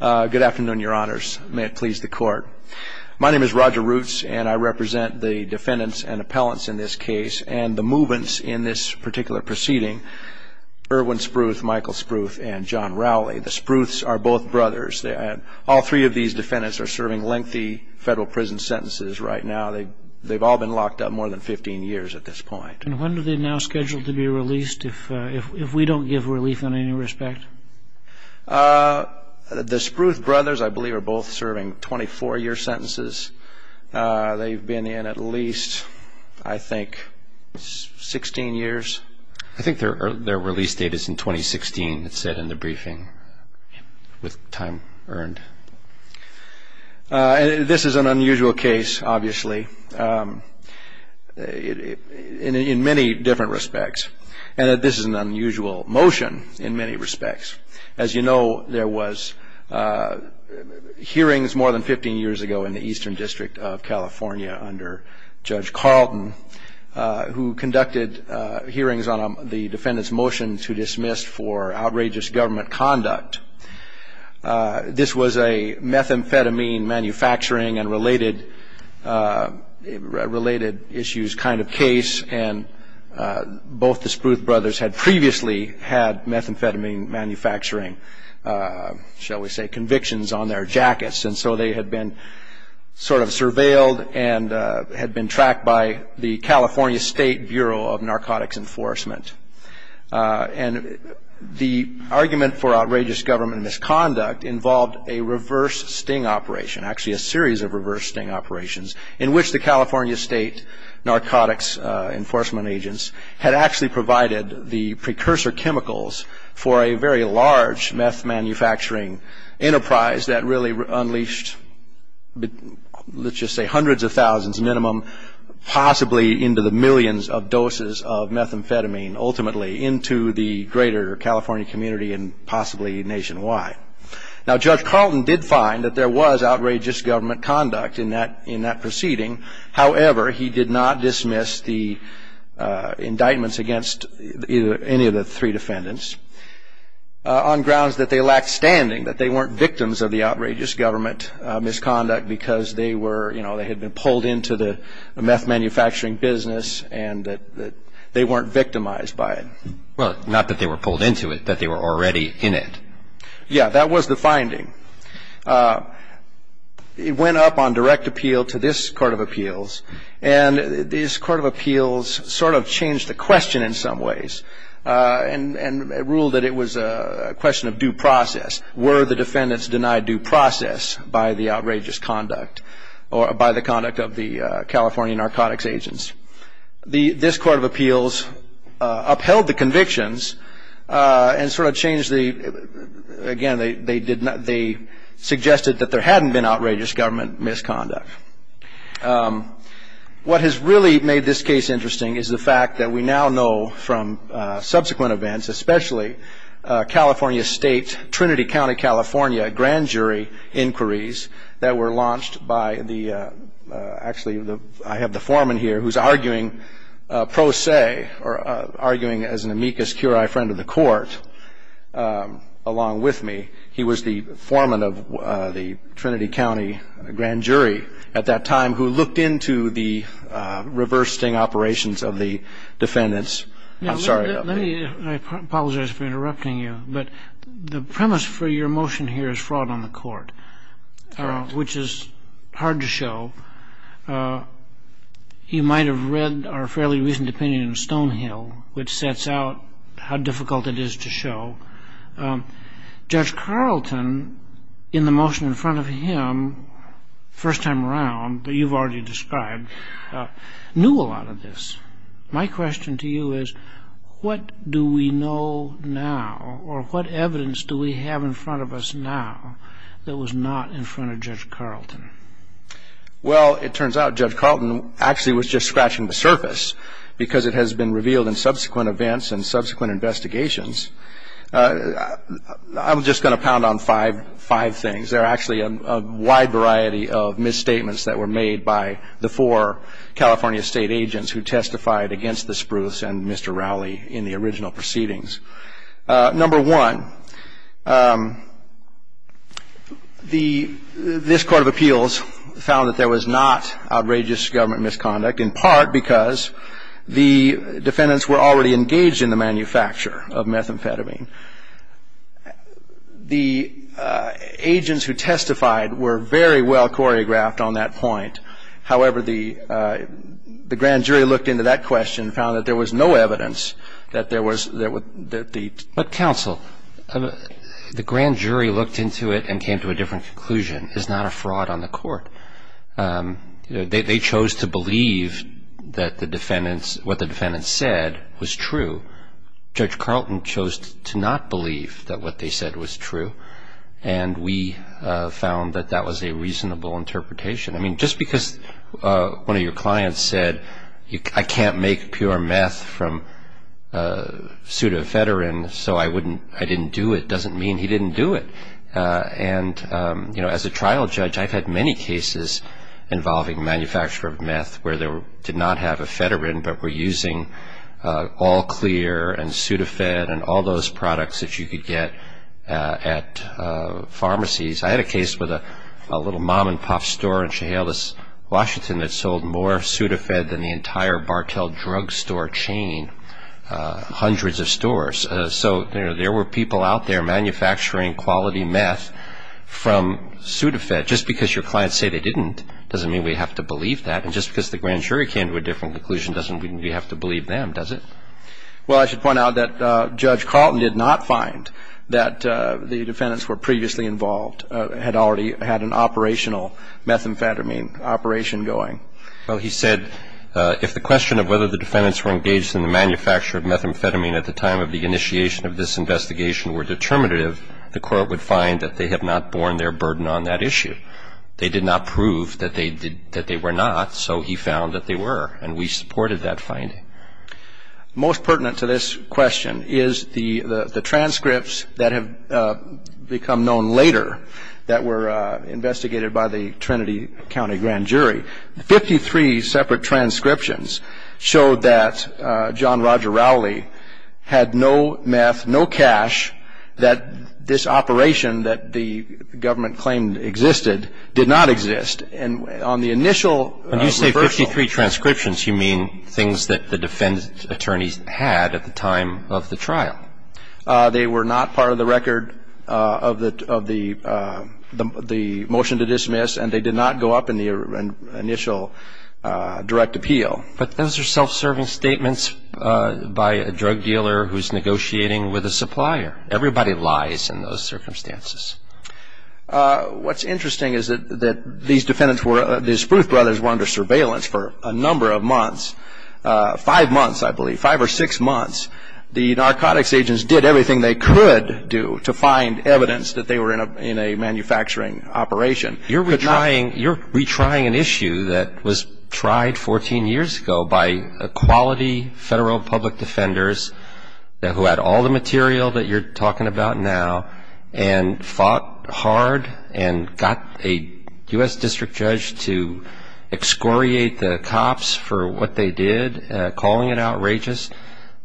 Good afternoon, your honors. May it please the court. My name is Roger Roots, and I represent the defendants and appellants in this case, and the movants in this particular proceeding, Irwin Spruth, Michael Spruth, and John Rowley. The Spruths are both brothers. All three of these defendants are serving lengthy federal prison sentences right now. They've all been locked up more than 15 years at this point. And when are they now scheduled to be released if we don't give relief in any respect? The Spruth brothers, I believe, are both serving 24-year sentences. They've been in at least, I think, 16 years. I think their release date is in 2016, it said in the briefing, with time earned. This is an unusual case, obviously, in many different respects. And this is an unusual motion in many respects. As you know, there was hearings more than 15 years ago in the Eastern District of California under Judge Carlton, who conducted hearings on the defendant's motion to dismiss for outrageous government conduct. This was a methamphetamine manufacturing and related issues kind of case, and both the Spruth brothers had previously had methamphetamine manufacturing, shall we say, convictions on their jackets. And so they had been sort of surveilled and had been tracked by the California State Bureau of Narcotics Enforcement. And the argument for outrageous government misconduct involved a reverse sting operation, actually a series of reverse sting operations, in which the California State Narcotics Enforcement agents had actually provided the precursor chemicals for a very large meth manufacturing enterprise that really unleashed, let's just say hundreds of thousands minimum, possibly into the millions of doses of methamphetamine ultimately into the greater California community and possibly nationwide. Now, Judge Carlton did find that there was outrageous government conduct in that proceeding. However, he did not dismiss the indictments against any of the three defendants on grounds that they lacked standing, that they weren't victims of the outrageous government misconduct because they were, you know, they had been pulled into the meth manufacturing business and that they weren't victimized by it. Well, not that they were pulled into it, that they were already in it. Yeah, that was the finding. It went up on direct appeal to this Court of Appeals, and this Court of Appeals sort of changed the question in some ways and ruled that it was a question of due process. Were the defendants denied due process by the outrageous conduct or by the conduct of the California narcotics agents? This Court of Appeals upheld the convictions and sort of changed the, again, they suggested that there hadn't been outrageous government misconduct. What has really made this case interesting is the fact that we now know from subsequent events, especially California State, Trinity County, California grand jury inquiries that were launched by the, actually I have the foreman here who's arguing pro se or arguing as an amicus curiae friend of the court along with me. He was the foreman of the Trinity County grand jury at that time who looked into the reverse sting operations of the defendants. I apologize for interrupting you, but the premise for your motion here is fraud on the court, which is hard to show. You might have read our fairly recent opinion of Stonehill, which sets out how difficult it is to show. Judge Carlton, in the motion in front of him, first time around, but you've already described, knew a lot of this. My question to you is what do we know now or what evidence do we have in front of us now that was not in front of Judge Carlton? Well, it turns out Judge Carlton actually was just scratching the surface because it has been revealed in subsequent events and subsequent investigations. I'm just going to pound on five things. There are actually a wide variety of misstatements that were made by the four California state agents who testified against the Spruce and Mr. Rowley in the original proceedings. Number one, this court of appeals found that there was not outrageous government misconduct, in part because the defendants were already engaged in the manufacture of methamphetamine. The agents who testified were very well choreographed on that point. However, the grand jury looked into that question and found that there was no evidence that there was the ---- But counsel, the grand jury looked into it and came to a different conclusion. It's not a fraud on the court. They chose to believe that the defendants, what the defendants said was true. Judge Carlton chose to not believe that what they said was true. And we found that that was a reasonable interpretation. I mean, just because one of your clients said, I can't make pure meth from pseudoephedrine, so I didn't do it, doesn't mean he didn't do it. And, you know, as a trial judge, I've had many cases involving manufacture of meth where they did not have ephedrine but were using all clear and pseudoephedrine and all those products that you could get at pharmacies. I had a case with a little mom-and-pop store in Chehalis, Washington, that sold more pseudoephedrine than the entire Bartell drugstore chain, hundreds of stores. So, you know, there were people out there manufacturing quality meth from pseudoephedrine. Just because your clients say they didn't doesn't mean we have to believe that. And just because the grand jury came to a different conclusion doesn't mean we have to believe them, does it? Well, I should point out that Judge Carlton did not find that the defendants were previously involved, had already had an operational methamphetamine operation going. Well, he said if the question of whether the defendants were engaged in the manufacture of methamphetamine at the time of the initiation of this investigation were determinative, the Court would find that they have not borne their burden on that issue. They did not prove that they were not, so he found that they were, and we supported that finding. Most pertinent to this question is the transcripts that have become known later that were investigated by the Trinity County Grand Jury. Fifty-three separate transcriptions showed that John Roger Rowley had no meth, no cash, that this operation that the government claimed existed did not exist. And on the initial reversal of the transcripts, When you say 53 transcriptions, you mean things that the defendant's attorneys had at the time of the trial. They were not part of the record of the motion to dismiss, and they did not go up in the initial direct appeal. But those are self-serving statements by a drug dealer who's negotiating with a supplier. Everybody lies in those circumstances. What's interesting is that these defendants were under surveillance for a number of months, five months, I believe, five or six months. The narcotics agents did everything they could do to find evidence that they were in a manufacturing operation. You're retrying an issue that was tried 14 years ago by quality federal public defenders who had all the material that you're talking about now and fought hard and got a U.S. district judge to excoriate the cops for what they did, calling it outrageous,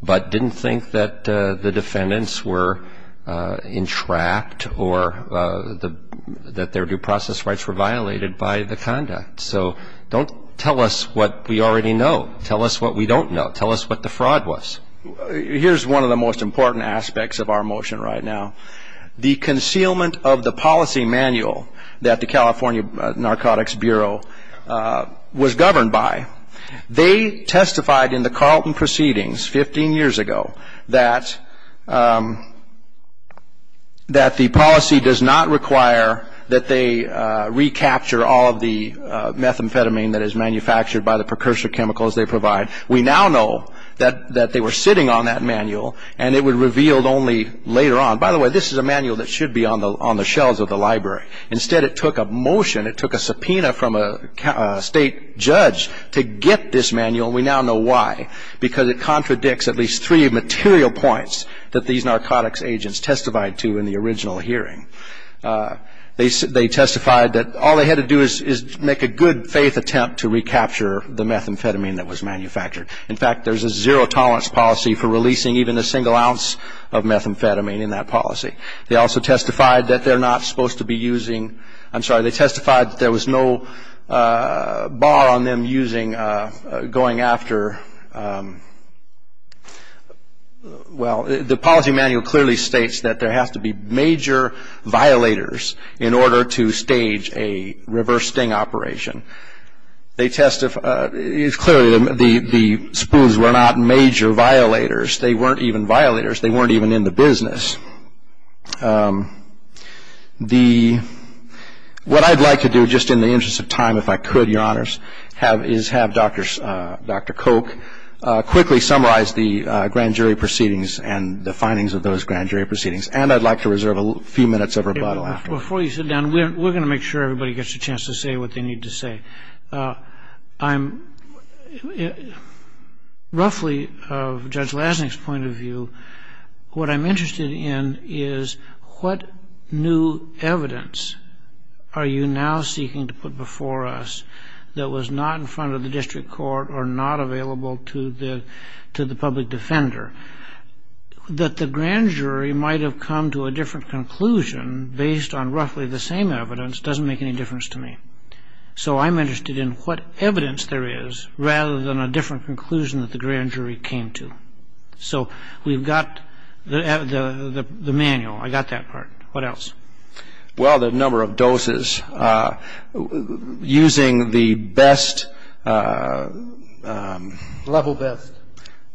but didn't think that the defendants were entrapped or that their due process rights were violated by the conduct. So don't tell us what we already know. Tell us what we don't know. Tell us what the fraud was. Here's one of the most important aspects of our motion right now. The concealment of the policy manual that the California Narcotics Bureau was governed by. They testified in the Carlton proceedings 15 years ago that the policy does not require that they recapture all of the methamphetamine that is manufactured by the precursor chemicals they provide. We now know that they were sitting on that manual, and it was revealed only later on. By the way, this is a manual that should be on the shelves of the library. Instead, it took a motion, it took a subpoena from a state judge to get this manual, and we now know why, because it contradicts at least three material points that these narcotics agents testified to in the original hearing. They testified that all they had to do is make a good-faith attempt to recapture the methamphetamine that was manufactured. In fact, there's a zero-tolerance policy for releasing even a single ounce of methamphetamine in that policy. They also testified that they're not supposed to be using – I'm sorry, they testified that there was no bar on them using – going after – well, the policy manual clearly states that there has to be major violators in order to stage a reverse sting operation. They testified – clearly, the spoofs were not major violators. They weren't even violators. They weren't even in the business. What I'd like to do, just in the interest of time, if I could, Your Honors, is have Dr. Koch quickly summarize the grand jury proceedings and the findings of those grand jury proceedings, and I'd like to reserve a few minutes of rebuttal after. Before you sit down, we're going to make sure everybody gets a chance to say what they need to say. I'm – roughly, of Judge Lasnik's point of view, what I'm interested in is what new evidence are you now seeking to put before us that was not in front of the district court or not available to the public defender? That the grand jury might have come to a different conclusion based on roughly the same evidence doesn't make any difference to me. So I'm interested in what evidence there is rather than a different conclusion that the grand jury came to. So we've got the manual. I got that part. What else? Well, the number of doses. Using the best – Level best.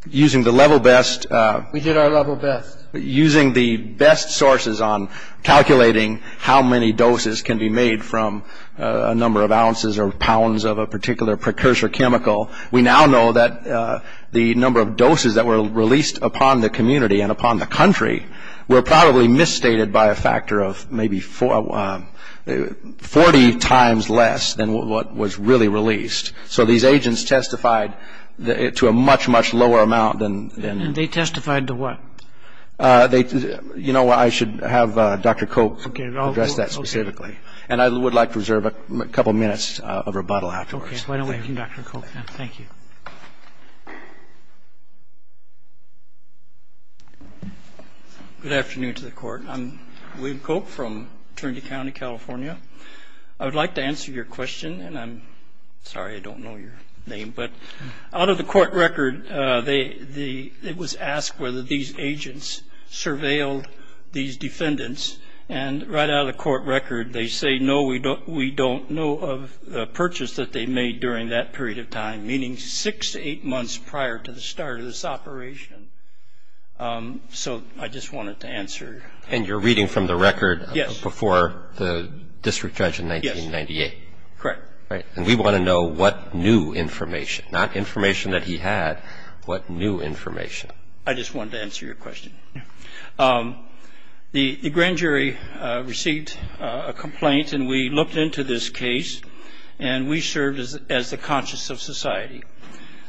Using the level best – We did our level best. Using the best sources on calculating how many doses can be made from a number of ounces or pounds of a particular precursor chemical, we now know that the number of doses that were released upon the community and upon the country were probably misstated by a factor of maybe 40 times less than what was really released. So these agents testified to a much, much lower amount than – And they testified to what? You know, I should have Dr. Cope address that specifically. And I would like to reserve a couple minutes of rebuttal afterwards. Okay. Why don't we have Dr. Cope now? Thank you. Good afternoon to the Court. I'm William Cope from Trinity County, California. I would like to answer your question, and I'm sorry I don't know your name, but out of the court record it was asked whether these agents surveilled these defendants, and right out of the court record they say, no, we don't know of the purchase that they made during that period of time, meaning six to eight months prior to the start of this operation. So I just wanted to answer. And you're reading from the record before the district judge in 1998? Yes. Correct. And we want to know what new information, not information that he had, what new information. I just wanted to answer your question. The grand jury received a complaint, and we looked into this case, and we served as the conscience of society.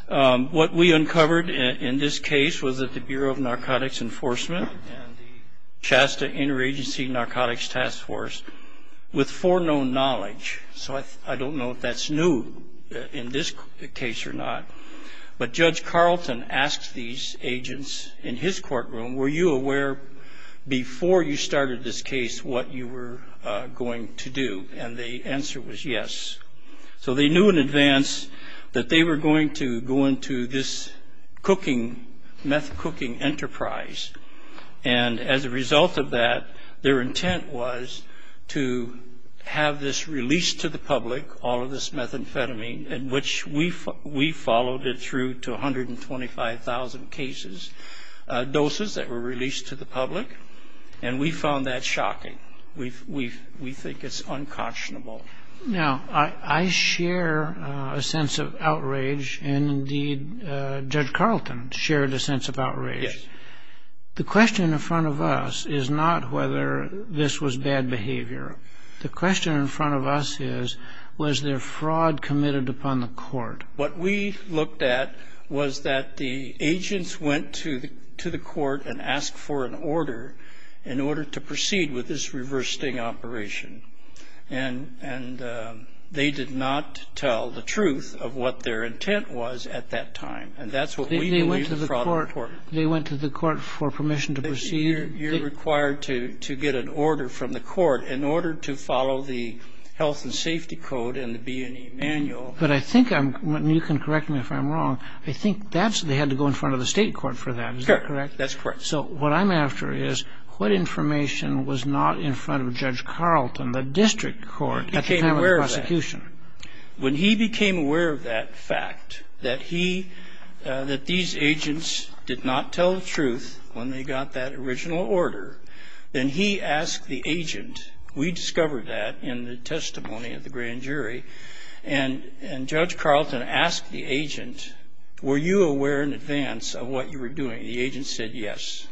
What we uncovered in this case was that the Bureau of Narcotics Enforcement and the Shasta Interagency Narcotics Task Force, with foreknown knowledge, so I don't know if that's new in this case or not, but Judge Carlton asked these agents in his courtroom, were you aware before you started this case what you were going to do? And the answer was yes. So they knew in advance that they were going to go into this cooking, meth cooking enterprise, and as a result of that, their intent was to have this released to the public, all of this methamphetamine, in which we followed it through to 125,000 cases, doses that were released to the public, and we found that shocking. We think it's unconscionable. Now, I share a sense of outrage, and indeed Judge Carlton shared a sense of outrage. The question in front of us is not whether this was bad behavior. The question in front of us is, was there fraud committed upon the court? What we looked at was that the agents went to the court and asked for an order in order to proceed with this reverse sting operation, and they did not tell the truth of what their intent was at that time, and that's what we believe is the fraud of the court. They went to the court for permission to proceed? You're required to get an order from the court in order to follow the health and safety code and the B&E manual. But I think, and you can correct me if I'm wrong, I think they had to go in front of the state court for that, is that correct? Correct, that's correct. So what I'm after is, what information was not in front of Judge Carlton, the district court, at the time of the prosecution? When he became aware of that fact, that these agents did not tell the truth when they got that original order, then he asked the agent, we discovered that in the testimony of the grand jury, and Judge Carlton asked the agent, were you aware in advance of what you were doing? The agent said yes.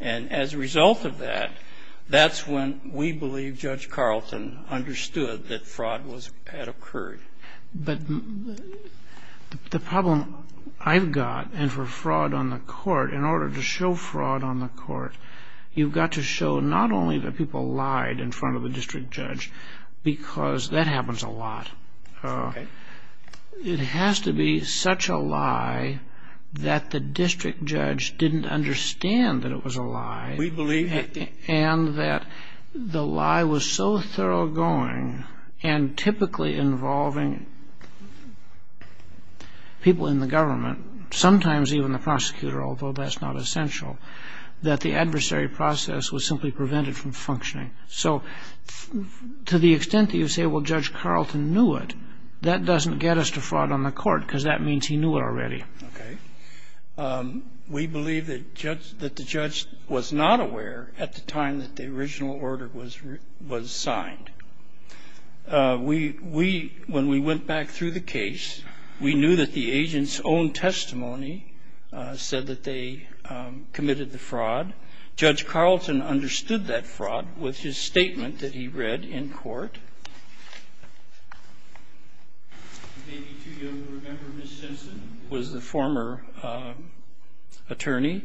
And as a result of that, that's when we believe Judge Carlton understood that fraud had occurred. But the problem I've got, and for fraud on the court, in order to show fraud on the court, you've got to show not only that people lied in front of the district judge, because that happens a lot. It has to be such a lie that the district judge didn't understand that it was a lie. We believe it. And that the lie was so thorough going, and typically involving people in the government, sometimes even the prosecutor, although that's not essential, that the adversary process was simply prevented from functioning. So to the extent that you say, well, Judge Carlton knew it, that doesn't get us to fraud on the court, because that means he knew it already. Okay. We believe that the judge was not aware at the time that the original order was signed. When we went back through the case, we knew that the agent's own testimony said that they committed the fraud. Judge Carlton understood that fraud with his statement that he read in court. Maybe too young to remember Ms. Simpson was the former attorney,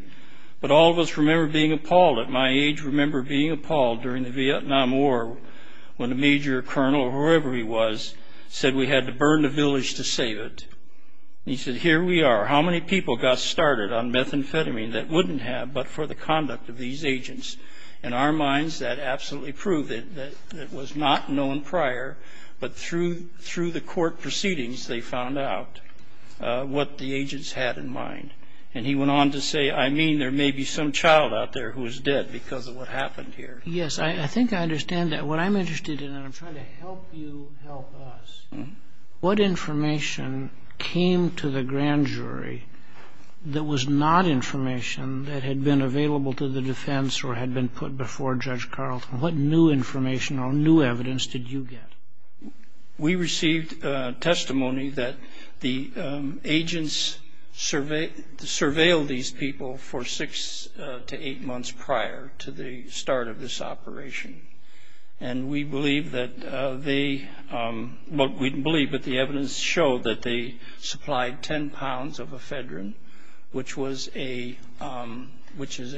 but all of us remember being appalled at my age, remember being appalled during the Vietnam War when a major colonel, or whoever he was, said we had to burn the village to save it. He said, here we are. How many people got started on methamphetamine that wouldn't have, but for the conduct of these agents? In our minds, that absolutely proved it. It was not known prior, but through the court proceedings, they found out what the agents had in mind. And he went on to say, I mean, there may be some child out there who was dead because of what happened here. Yes, I think I understand that. What I'm interested in, and I'm trying to help you help us, what information came to the grand jury that was not information that had been available to the defense or had been put before Judge Carlton? What new information or new evidence did you get? We received testimony that the agents surveilled these people for six to eight months prior to the start of this operation. And we believe that the evidence showed that they supplied 10 pounds of ephedrine, which is a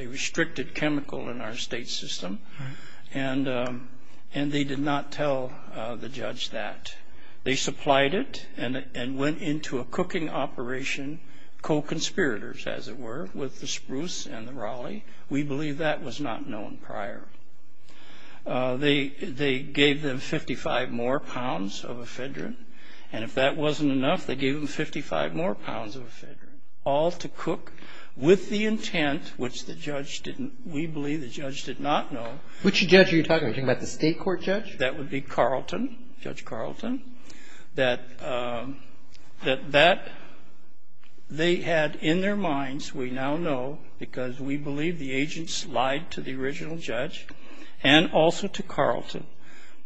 restricted chemical in our state system, and they did not tell the judge that. They supplied it and went into a cooking operation, co-conspirators, as it were, with the Spruce and the Raleigh. We believe that was not known prior. They gave them 55 more pounds of ephedrine, and if that wasn't enough, they gave them 55 more pounds of ephedrine, all to cook with the intent, which the judge didn't we believe the judge did not know. Which judge are you talking about? Are you talking about the state court judge? That would be Carlton, Judge Carlton. That they had in their minds, we now know, because we believe the agents lied to the original judge and also to Carlton,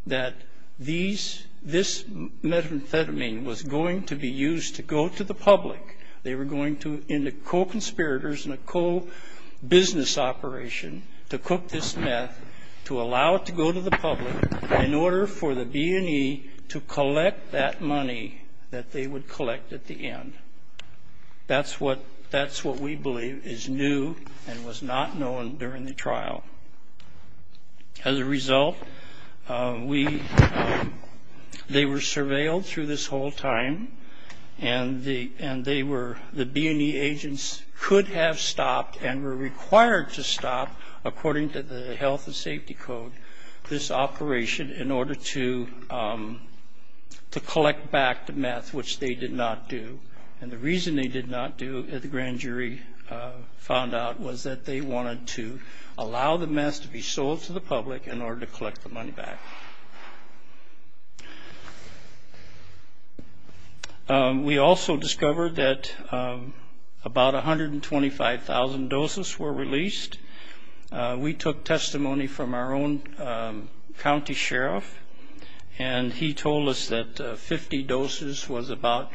that this methamphetamine was going to be used to go to the public. They were going to, in the co-conspirators and the co-business operation, to cook this meth, to allow it to go to the public, in order for the B&E to collect that money that they would collect at the end. That's what we believe is new and was not known during the trial. As a result, they were surveilled through this whole time, and the B&E agents could have stopped and were required to stop, according to the Health and Safety Code, this operation in order to collect back the meth, which they did not do. And the reason they did not do, the grand jury found out, was that they wanted to allow the meth to be sold to the public in order to collect the money back. We also discovered that about 125,000 doses were released. We took testimony from our own county sheriff, and he told us that 50 doses was about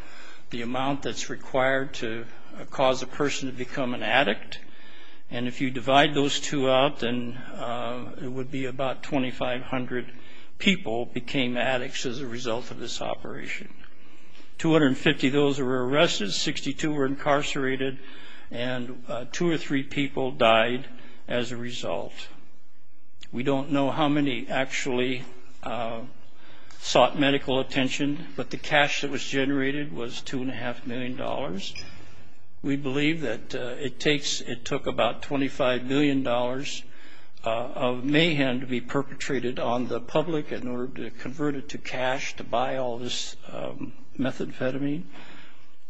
the amount that's required to cause a person to become an addict. And if you divide those two out, then it would be about 2,500 people became addicts as a result of this operation. 250 of those were arrested, 62 were incarcerated, and two or three people died as a result. We don't know how many actually sought medical attention, but the cash that was generated was $2.5 million. We believe that it took about $25 million of mayhem to be perpetrated on the public in order to convert it to cash to buy all this methamphetamine.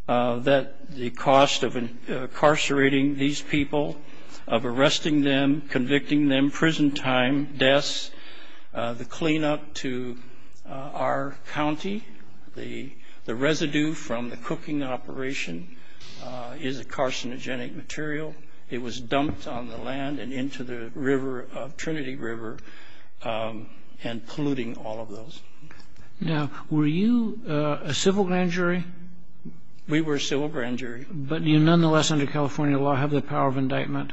The cost of incarcerating these people, of arresting them, convicting them, prison time, deaths, the cleanup to our county, the residue from the cooking operation is a carcinogenic material. It was dumped on the land and into the river, Trinity River, and polluting all of those. Now, were you a civil grand jury? We were a civil grand jury. But you nonetheless under California law have the power of indictment.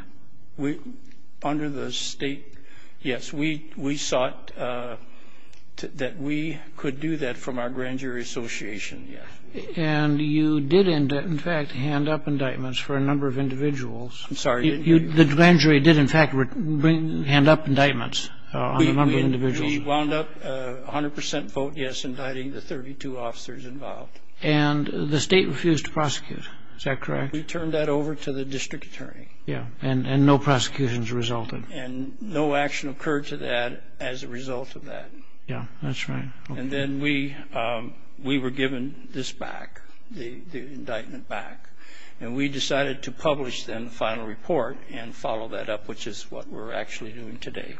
Under the state, yes. We sought that we could do that from our grand jury association, yes. And you did, in fact, hand up indictments for a number of individuals. I'm sorry. The grand jury did, in fact, hand up indictments on a number of individuals. We wound up 100% vote yes, indicting the 32 officers involved. And the state refused to prosecute. Is that correct? We turned that over to the district attorney. Yes, and no prosecutions resulted. And no action occurred to that as a result of that. Yes, that's right. And then we were given this back, the indictment back, and we decided to publish then the final report and follow that up, which is what we're actually doing today.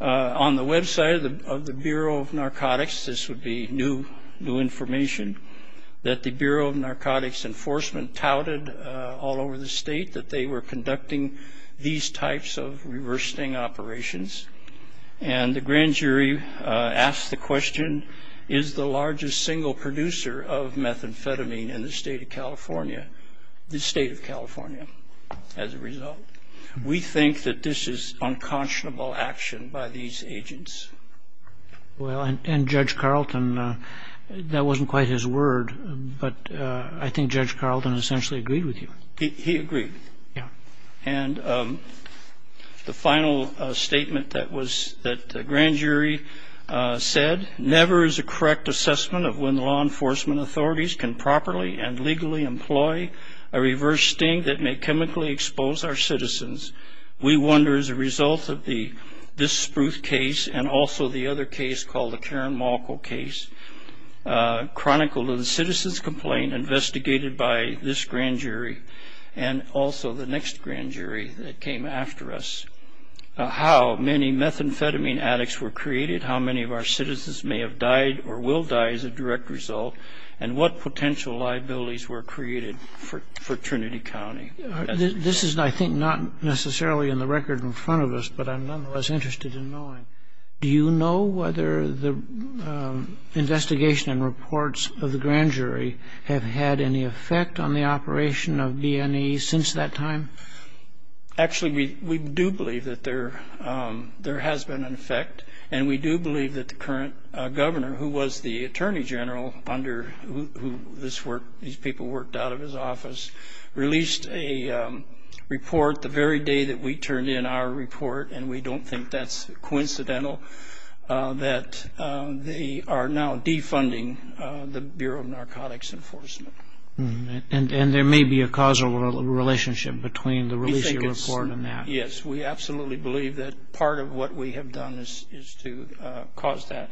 On the website of the Bureau of Narcotics, this would be new information, that the Bureau of Narcotics Enforcement touted all over the state that they were conducting these types of reversing operations. And the grand jury asked the question, is the largest single producer of methamphetamine in the state of California? The state of California, as a result. We think that this is unconscionable action by these agents. Well, and Judge Carlton, that wasn't quite his word, but I think Judge Carlton essentially agreed with you. He agreed. Yeah. And the final statement that the grand jury said, never is a correct assessment of when law enforcement authorities can properly and legally employ a reverse sting that may chemically expose our citizens. We wonder, as a result of this Spruce case and also the other case called the Karen Malko case, chronicle of the citizen's complaint investigated by this grand jury and also the next grand jury that came after us, how many methamphetamine addicts were created, how many of our citizens may have died or will die as a direct result, and what potential liabilities were created for Trinity County. This is, I think, not necessarily in the record in front of us, but I'm nonetheless interested in knowing, do you know whether the investigation and reports of the grand jury have had any effect on the operation of BNE since that time? Actually, we do believe that there has been an effect, and we do believe that the current governor, who was the attorney general under who these people worked out of his office, released a report the very day that we turned in our report, and we don't think that's coincidental, that they are now defunding the Bureau of Narcotics Enforcement. And there may be a causal relationship between the release of the report and that. Yes, we absolutely believe that part of what we have done is to cause that.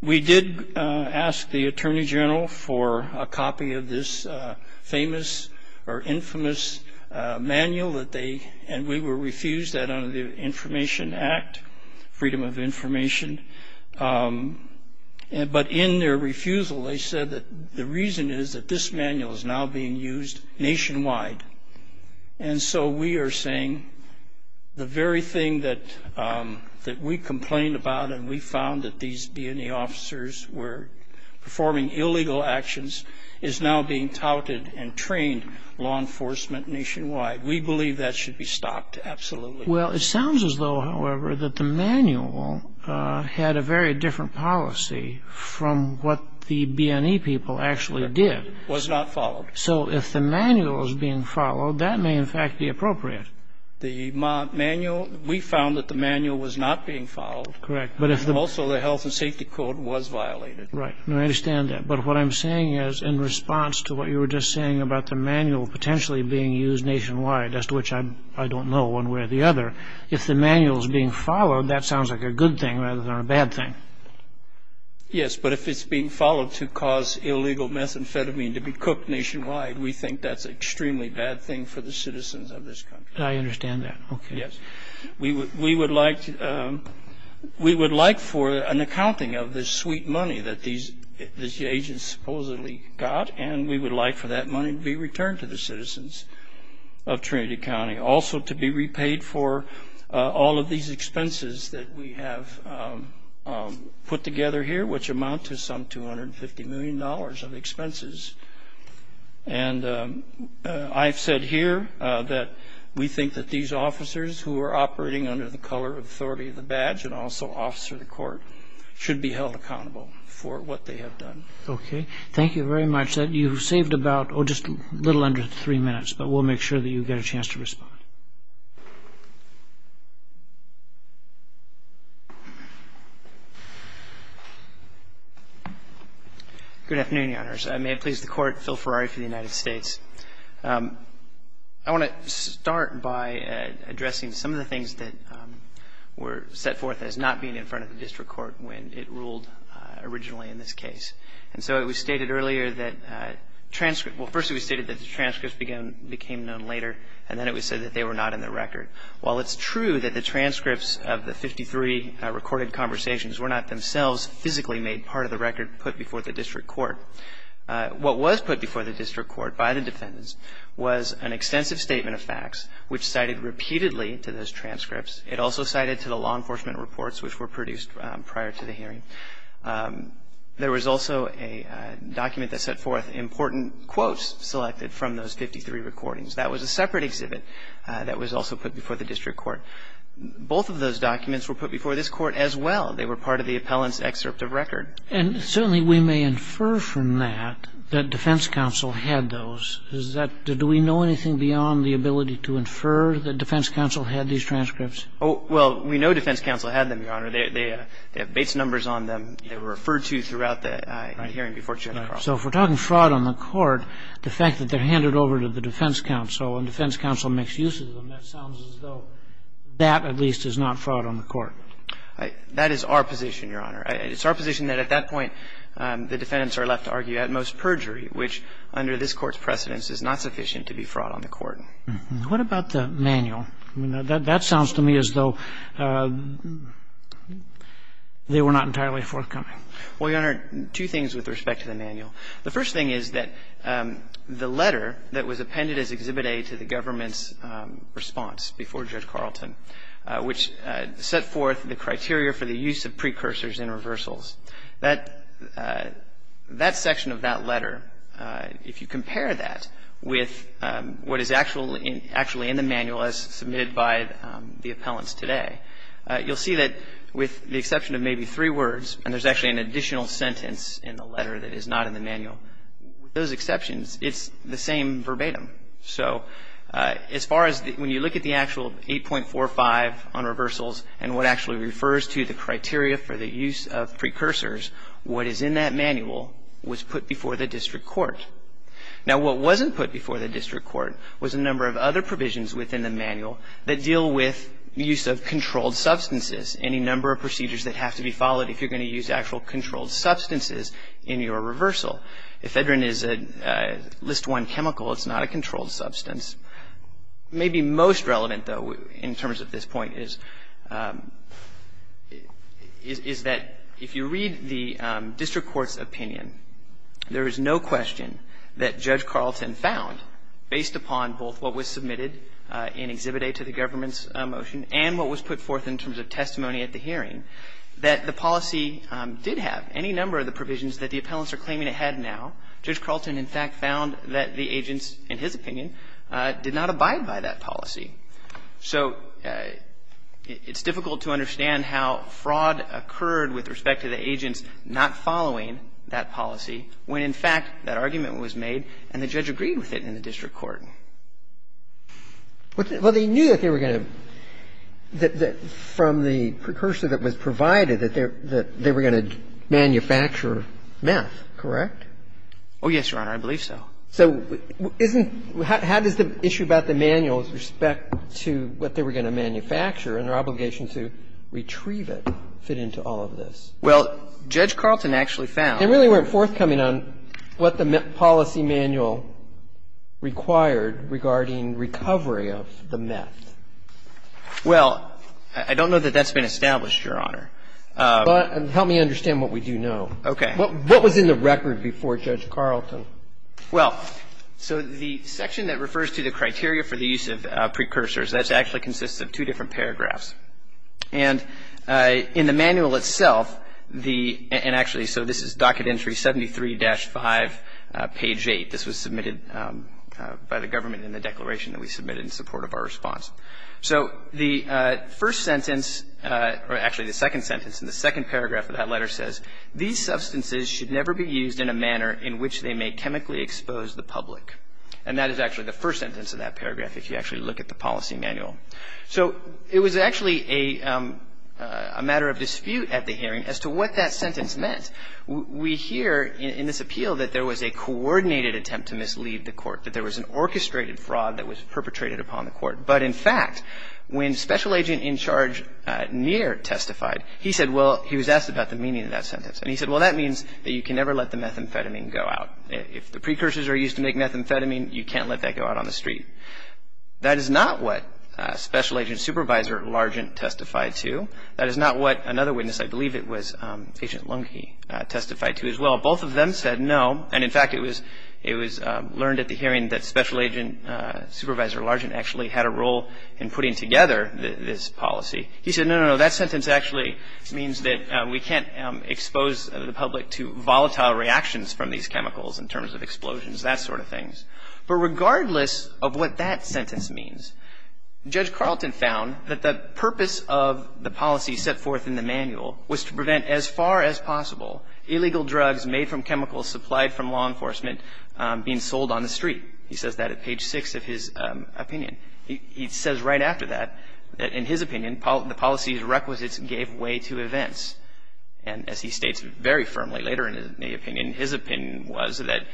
We did ask the attorney general for a copy of this famous or infamous manual, and we were refused that under the Information Act, Freedom of Information. But in their refusal, they said that the reason is that this manual is now being used nationwide. And so we are saying the very thing that we complained about and we found that these BNE officers were performing illegal actions is now being touted and trained law enforcement nationwide. We believe that should be stopped absolutely. Well, it sounds as though, however, that the manual had a very different policy from what the BNE people actually did. It was not followed. So if the manual is being followed, that may in fact be appropriate. The manual, we found that the manual was not being followed. Correct. Also, the health and safety code was violated. Right. I understand that. But what I'm saying is in response to what you were just saying about the manual potentially being used nationwide, as to which I don't know one way or the other, if the manual is being followed, that sounds like a good thing rather than a bad thing. Yes, but if it's being followed to cause illegal methamphetamine to be cooked nationwide, we think that's an extremely bad thing for the citizens of this country. I understand that. Okay. Yes. We would like for an accounting of this sweet money that these agents supposedly got, and we would like for that money to be returned to the citizens of Trinity County, also to be repaid for all of these expenses that we have put together here, which amount to some $250 million of expenses. And I've said here that we think that these officers who are operating under the color of authority of the badge, and also officer of the court, should be held accountable for what they have done. Okay. Thank you very much. You've saved about just a little under three minutes, but we'll make sure that you get a chance to respond. Good afternoon, Your Honors. I may have pleased the Court. Phil Ferrari for the United States. I want to start by addressing some of the things that were set forth as not being in front of the district court when it ruled originally in this case. And so it was stated earlier that transcripts – well, first it was stated that the transcripts became known later, and then it was said that they were not in the record. While it's true that the transcripts of the 53 recorded conversations were not themselves physically made part of the record put before the district court, what was put before the district court by the defendants was an extensive statement of facts, which cited repeatedly to those transcripts. It also cited to the law enforcement reports which were produced prior to the hearing. There was also a document that set forth important quotes selected from those 53 recordings. That was a separate exhibit that was also put before the district court. Both of those documents were put before this court as well. They were part of the appellant's excerpt of record. And certainly we may infer from that that defense counsel had those. Is that – do we know anything beyond the ability to infer that defense counsel had these transcripts? Oh, well, we know defense counsel had them, Your Honor. They have base numbers on them. They were referred to throughout the hearing before General Carlson. So if we're talking fraud on the court, the fact that they're handed over to the defense counsel and defense counsel makes use of them, that sounds as though that at least is not fraud on the court. That is our position, Your Honor. It's our position that at that point the defendants are left to argue at most perjury, which under this Court's precedence is not sufficient to be fraud on the court. What about the manual? That sounds to me as though they were not entirely forthcoming. Well, Your Honor, two things with respect to the manual. The first thing is that the letter that was appended as Exhibit A to the government's set forth the criteria for the use of precursors in reversals. That section of that letter, if you compare that with what is actually in the manual as submitted by the appellants today, you'll see that with the exception of maybe three words, and there's actually an additional sentence in the letter that is not in the manual, with those exceptions it's the same verbatim. So as far as when you look at the actual 8.45 on reversals and what actually refers to the criteria for the use of precursors, what is in that manual was put before the district court. Now what wasn't put before the district court was a number of other provisions within the manual that deal with use of controlled substances, any number of procedures that have to be followed if you're going to use actual controlled substances in your reversal. If Edrin is a List I chemical, it's not a controlled substance. Maybe most relevant, though, in terms of this point is that if you read the district court's opinion, there is no question that Judge Carlton found, based upon both what was submitted in Exhibit A to the government's motion and what was put forth in terms of testimony at the hearing, that the policy did have any number of the provisions that the appellants are claiming it had now. Judge Carlton, in fact, found that the agents, in his opinion, did not abide by that policy. So it's difficult to understand how fraud occurred with respect to the agents not following that policy when, in fact, that argument was made and the judge agreed with it in the district court. Well, they knew that they were going to, from the precursor that was provided, that they were going to manufacture meth, correct? Oh, yes, Your Honor, I believe so. So isn't – how does the issue about the manual with respect to what they were going to manufacture and their obligation to retrieve it fit into all of this? Well, Judge Carlton actually found that they really weren't forthcoming on what the policy manual required regarding recovery of the meth. Well, I don't know that that's been established, Your Honor. Help me understand what we do know. Okay. What was in the record before Judge Carlton? Well, so the section that refers to the criteria for the use of precursors, that actually consists of two different paragraphs. And in the manual itself, the – and actually, so this is docket entry 73-5, page 8. This was submitted by the government in the declaration that we submitted in support of our response. So the first sentence – or actually, the second sentence in the second paragraph of that letter says, These substances should never be used in a manner in which they may chemically expose the public. And that is actually the first sentence of that paragraph, if you actually look at the policy manual. So it was actually a matter of dispute at the hearing as to what that sentence meant. We hear in this appeal that there was a coordinated attempt to mislead the court, that there was an orchestrated fraud that was perpetrated upon the court. But in fact, when Special Agent in Charge Neer testified, he said – well, he was asked about the meaning of that sentence. And he said, well, that means that you can never let the methamphetamine go out. If the precursors are used to make methamphetamine, you can't let that go out on the street. That is not what Special Agent Supervisor Largent testified to. That is not what another witness – I believe it was Agent Lunke – testified to as well. Both of them said no. And in fact, it was learned at the hearing that Special Agent Supervisor Largent actually had a role in putting together this policy. He said, no, no, no. That sentence actually means that we can't expose the public to volatile reactions from these chemicals in terms of explosions, that sort of thing. But regardless of what that sentence means, Judge Carlton found that the purpose of the policy set forth in the manual was to prevent as far as possible illegal drugs made from chemicals supplied from law enforcement being sold on the street. He says that at page 6 of his opinion. He says right after that, in his opinion, the policy's requisites gave way to events. And as he states very firmly later in the opinion, his opinion was that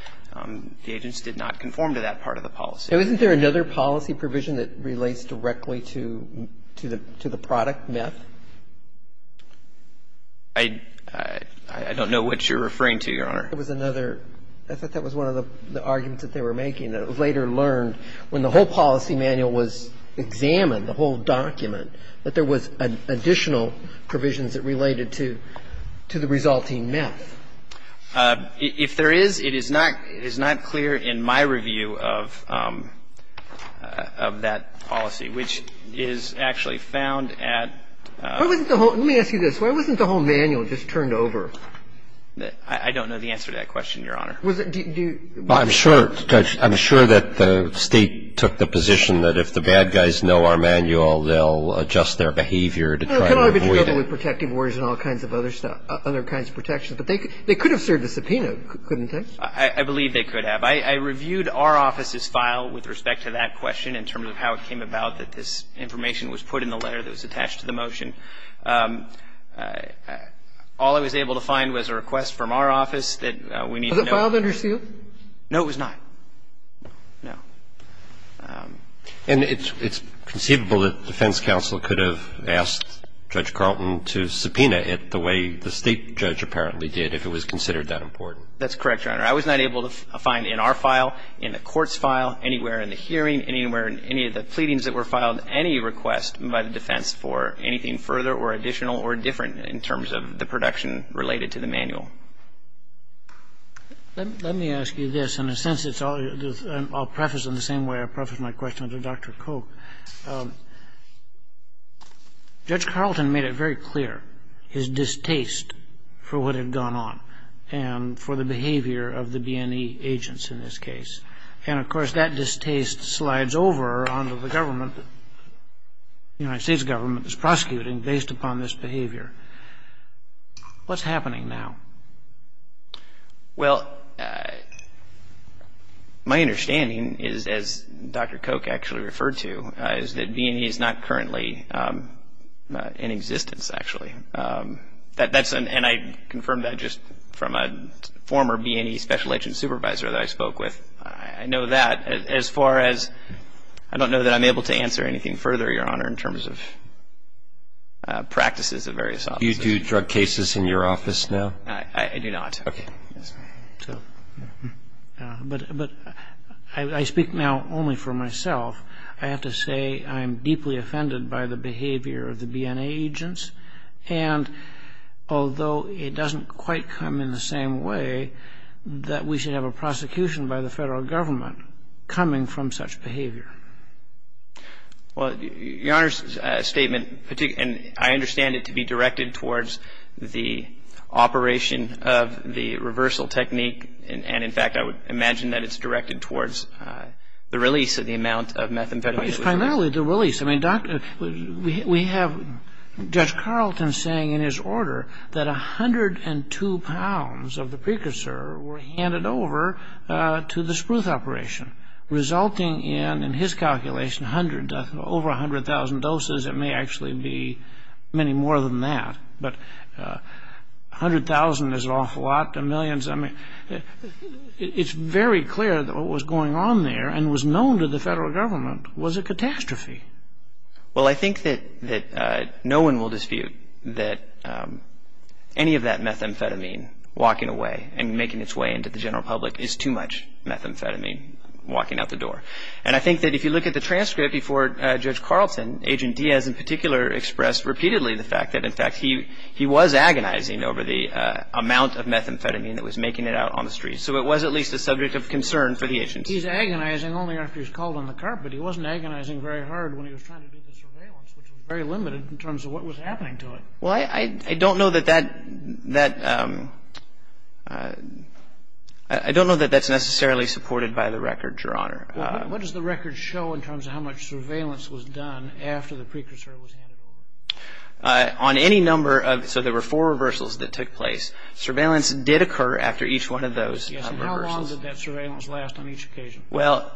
the agents did not conform to that part of the policy. Isn't there another policy provision that relates directly to the product, meth? I thought that was one of the arguments that they were making. It was later learned when the whole policy manual was examined, the whole document, that there was additional provisions that related to the resulting meth. If there is, it is not clear in my review of that policy, which is actually found at... Let me ask you this. Why wasn't the whole manual just turned over? I don't know the answer to that question, Your Honor. Do you... I'm sure, Judge. I'm sure that the State took the position that if the bad guys know our manual, they'll adjust their behavior to try to avoid it. They could have served a subpoena, couldn't they? I believe they could have. I reviewed our office's file with respect to that question in terms of how it came about that this information was put in the letter that was attached to the motion. All I was able to find was a request from our office that we need to know. Was it filed under seal? No, it was not. No. And it's conceivable that the defense counsel could have asked Judge Carlton to subpoena it the way the State judge apparently did if it was considered that important. That's correct, Your Honor. I was not able to find in our file, in the court's file, anywhere in the hearing, anywhere in any of the pleadings that were filed, any request by the defense for anything further or additional or different in terms of the production related to the manual. Let me ask you this. In a sense, I'll preface in the same way I prefaced my question to Dr. Coke. Judge Carlton made it very clear his distaste for what had gone on and for the behavior of the B&E agents in this case. And, of course, that distaste slides over onto the government, the United States government that's prosecuting based upon this behavior. What's happening now? Well, my understanding is, as Dr. Coke actually referred to, is that B&E is not currently in existence, actually. And I confirmed that just from a former B&E special agent supervisor that I spoke with. I know that. As far as I don't know that I'm able to answer anything further, Your Honor, in terms of practices of various offices. Do you do drug cases in your office now? I do not. Okay. But I speak now only for myself. I have to say I'm deeply offended by the behavior of the B&E agents. And although it doesn't quite come in the same way that we should have a prosecution by the federal government coming from such behavior. Well, Your Honor's statement, and I understand it to be directed towards the operation of the reversal technique. And, in fact, I would imagine that it's directed towards the release of the amount of methamphetamine. It's primarily the release. I mean, we have Judge Carlton saying in his order that 102 pounds of the precursor were handed over to the spruce operation, resulting in, in his calculation, over 100,000 doses. It may actually be many more than that. But 100,000 is an awful lot to millions. It's very clear that what was going on there and was known to the federal government was a catastrophe. Well, I think that no one will dispute that any of that methamphetamine walking away and making its way into the general public is too much methamphetamine walking out the door. And I think that if you look at the transcript before Judge Carlton, Agent Diaz in particular expressed repeatedly the fact that, in fact, he was agonizing over the amount of methamphetamine that was making it out on the streets. So it was at least a subject of concern for the agents. He's agonizing only after he's called on the carpet. He wasn't agonizing very hard when he was trying to do the surveillance, which was very limited in terms of what was happening to it. Well, I don't know that that's necessarily supported by the record, Your Honor. What does the record show in terms of how much surveillance was done after the precursor was handed over? On any number of – so there were four reversals that took place. Surveillance did occur after each one of those reversals. Yes, and how long did that surveillance last on each occasion? Well,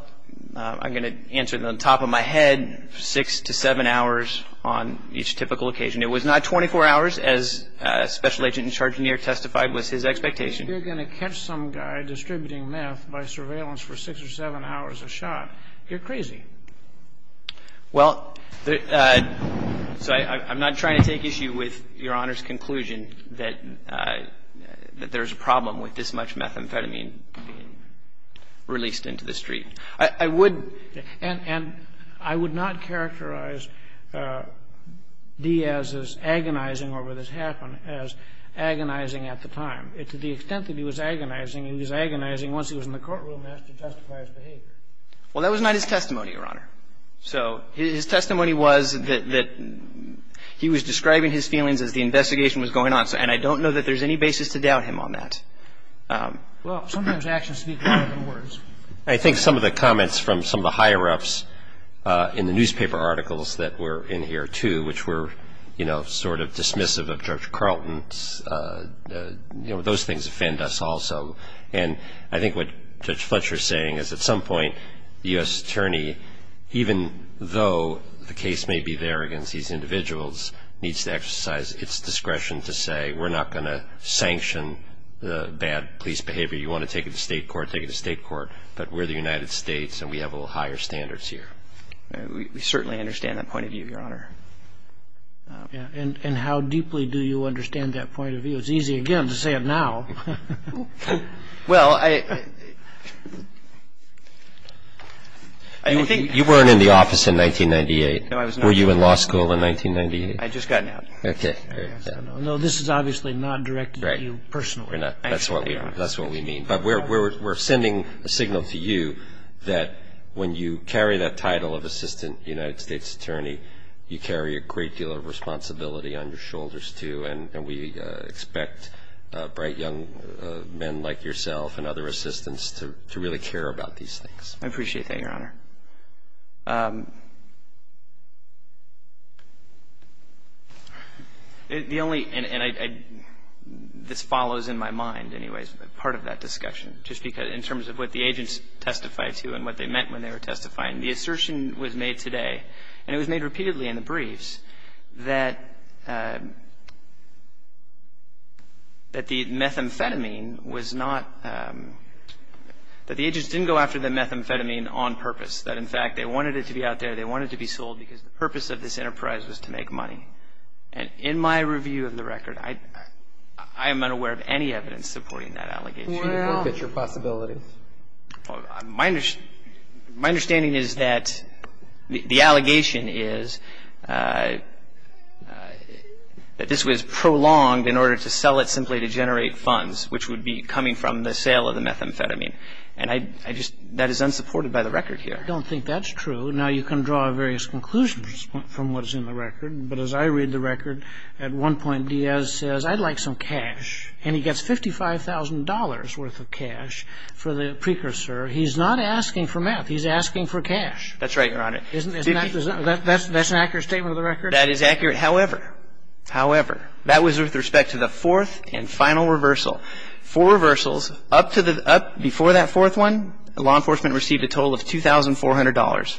I'm going to answer it on top of my head, six to seven hours on each typical occasion. It was not 24 hours, as Special Agent in Charge Nier testified was his expectation. You're going to catch some guy distributing meth by surveillance for six or seven hours a shot. You're crazy. Well, so I'm not trying to take issue with Your Honor's conclusion that there's a problem with this much methamphetamine being released into the street. I would – And I would not characterize Diaz's agonizing over this happen as agonizing at the time. To the extent that he was agonizing, he was agonizing once he was in the courtroom as to testifier's behavior. Well, that was not his testimony, Your Honor. So his testimony was that he was describing his feelings as the investigation was going on, and I don't know that there's any basis to doubt him on that. Well, sometimes actions speak louder than words. I think some of the comments from some of the higher-ups in the newspaper articles that were in here, too, which were sort of dismissive of Judge Carlton, those things offend us also. And I think what Judge Fletcher is saying is at some point the U.S. Attorney, even though the case may be there against these individuals, needs to exercise its discretion to say we're not going to sanction the bad police behavior. You want to take it to state court, take it to state court, but we're the United States and we have a little higher standards here. We certainly understand that point of view, Your Honor. And how deeply do you understand that point of view? It's easy, again, to say it now. Well, I – You weren't in the office in 1998. No, I was not. Were you in law school in 1998? I'd just gotten out. Okay. No, this is obviously not directed at you personally. No, we're not. That's what we mean. But we're sending a signal to you that when you carry that title of assistant United States Attorney, you carry a great deal of responsibility on your shoulders, too, and we expect bright young men like yourself and other assistants to really care about these things. I appreciate that, Your Honor. The only – and I – this follows in my mind, anyways, part of that discussion, just because in terms of what the agents testified to and what they meant when they were testifying, the assertion was made today, and it was made repeatedly in the briefs, that the methamphetamine was not – that the agents didn't go after the purpose, that, in fact, they wanted it to be out there, they wanted it to be sold because the purpose of this enterprise was to make money. And in my review of the record, I am unaware of any evidence supporting that allegation. Well – Look at your possibilities. My understanding is that the allegation is that this was prolonged in order to sell it simply to generate funds, which would be coming from the sale of the methamphetamine. I don't think that's true. Now, you can draw various conclusions from what is in the record, but as I read the record, at one point Diaz says, I'd like some cash, and he gets $55,000 worth of cash for the precursor. He's not asking for meth. He's asking for cash. That's right, Your Honor. Isn't that – that's an accurate statement of the record? That is accurate. However, however, that was with respect to the fourth and final reversal. Four reversals, up to the – up before that fourth one, law enforcement received a total of $2,400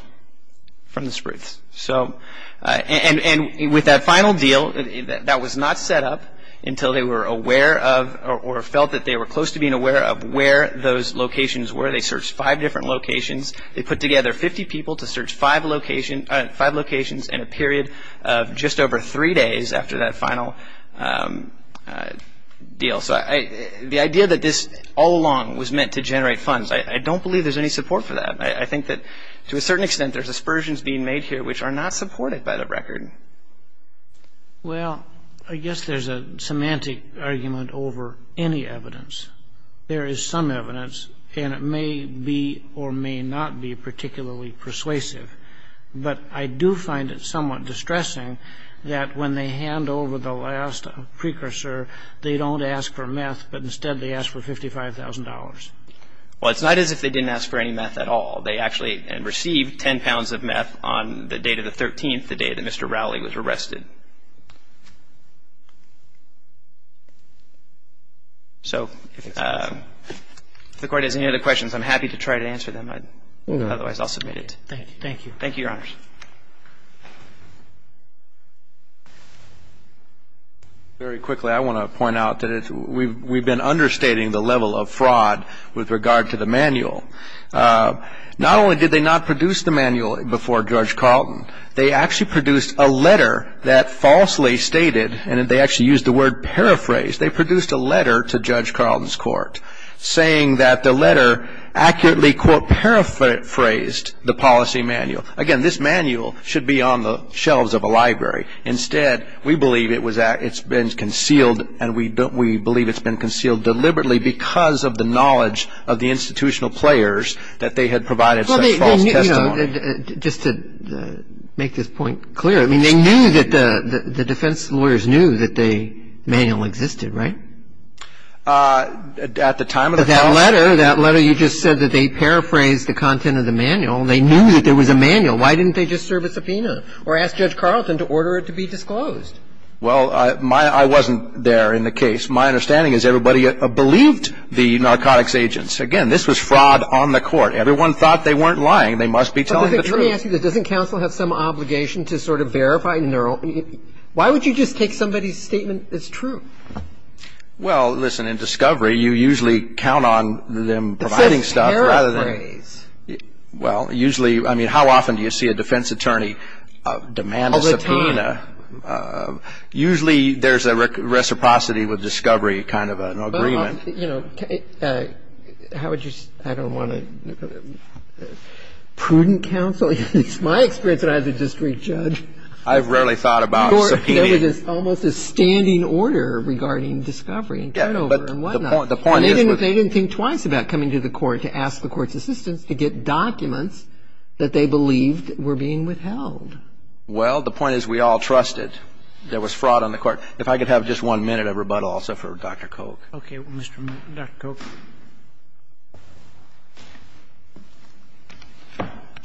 from the Spruce. So – and with that final deal, that was not set up until they were aware of or felt that they were close to being aware of where those locations were. They searched five different locations. They put together 50 people to search five locations in a period of just over three days after that final deal. So the idea that this all along was meant to generate funds, I don't believe there's any support for that. I think that to a certain extent there's aspersions being made here which are not supported by the record. Well, I guess there's a semantic argument over any evidence. There is some evidence, and it may be or may not be particularly persuasive. But I do find it somewhat distressing that when they hand over the last precursor, they don't ask for meth, but instead they ask for $55,000. Well, it's not as if they didn't ask for any meth at all. They actually received 10 pounds of meth on the date of the 13th, the day that Mr. Rowley was arrested. So if the Court has any other questions, I'm happy to try to answer them. Otherwise, I'll submit it. Thank you. Thank you, Your Honors. Very quickly, I want to point out that we've been understating the level of fraud with regard to the manual. Not only did they not produce the manual before Judge Carlton, they actually produced a letter that falsely stated, and they actually used the word paraphrase, they produced a letter to Judge Carlton's court saying that the letter accurately, quote, paraphrased the policy manual. Again, this manual should be on the shelves of a library. Instead, we believe it's been concealed, and we believe it's been concealed deliberately because of the knowledge of the institutional players that they had provided such false testimony. Just to make this point clear, I mean, they knew that the defense lawyers knew that the manual existed, right? At the time of the policy. That letter, you just said that they paraphrased the content of the manual. They knew that there was a manual. Why didn't they just serve a subpoena or ask Judge Carlton to order it to be disclosed? Well, I wasn't there in the case. My understanding is everybody believed the narcotics agents. Again, this was fraud on the court. Everyone thought they weren't lying. They must be telling the truth. Let me ask you this. Doesn't counsel have some obligation to sort of verify? Why would you just take somebody's statement as true? Well, listen, in discovery, you usually count on them providing stuff rather than – usually, I mean, how often do you see a defense attorney demand a subpoena? All the time. Usually there's a reciprocity with discovery kind of an agreement. How would you – I don't want to – prudent counsel? It's my experience that I have to just re-judge. I've rarely thought about subpoenas. There was almost a standing order regarding discovery and turnover and whatnot. Yeah, but the point is – They didn't think twice about coming to the court to ask the court's assistance to get documents that they believed were being withheld. Well, the point is we all trusted there was fraud on the court. If I could have just one minute of rebuttal also for Dr. Coke. Okay. Mr. – Dr. Coke.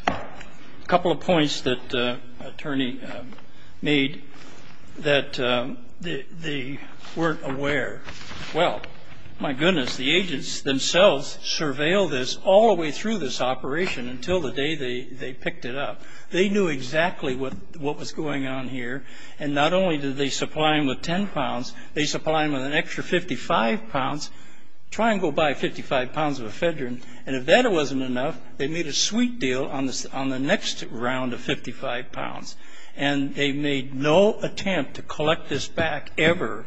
A couple of points that attorney made that they weren't aware. Well, my goodness, the agents themselves surveilled this all the way through this operation until the day they picked it up. They knew exactly what was going on here, and not only did they supply him with 10 pounds, they supplied him with an extra 55 pounds. Try and go buy 55 pounds of ephedrine. And if that wasn't enough, they made a sweet deal on the next round of 55 pounds, and they made no attempt to collect this back ever.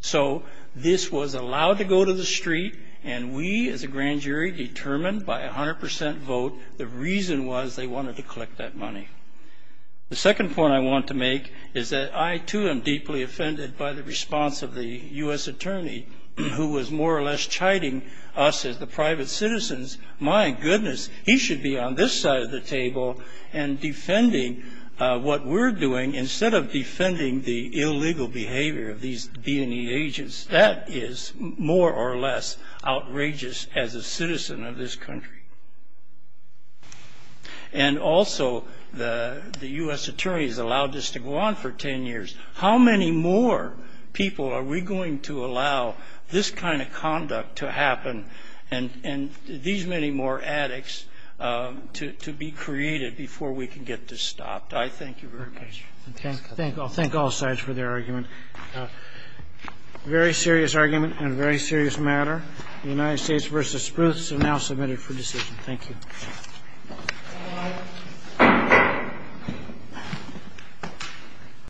So this was allowed to go to the street, and we as a grand jury determined by 100 percent vote the reason was they wanted to collect that money. The second point I want to make is that I, too, am deeply offended by the response of the U.S. attorney who was more or less chiding us as the private citizens. My goodness, he should be on this side of the table and defending what we're doing instead of defending the illegal behavior of these B&E agents. That is more or less outrageous as a citizen of this country. And also, the U.S. attorney has allowed this to go on for 10 years. How many more people are we going to allow this kind of conduct to happen and these many more addicts to be created before we can get this stopped? I thank you very much. I thank all sides for their argument. A very serious argument and a very serious matter. The United States v. Spruce is now submitted for decision. Thank you.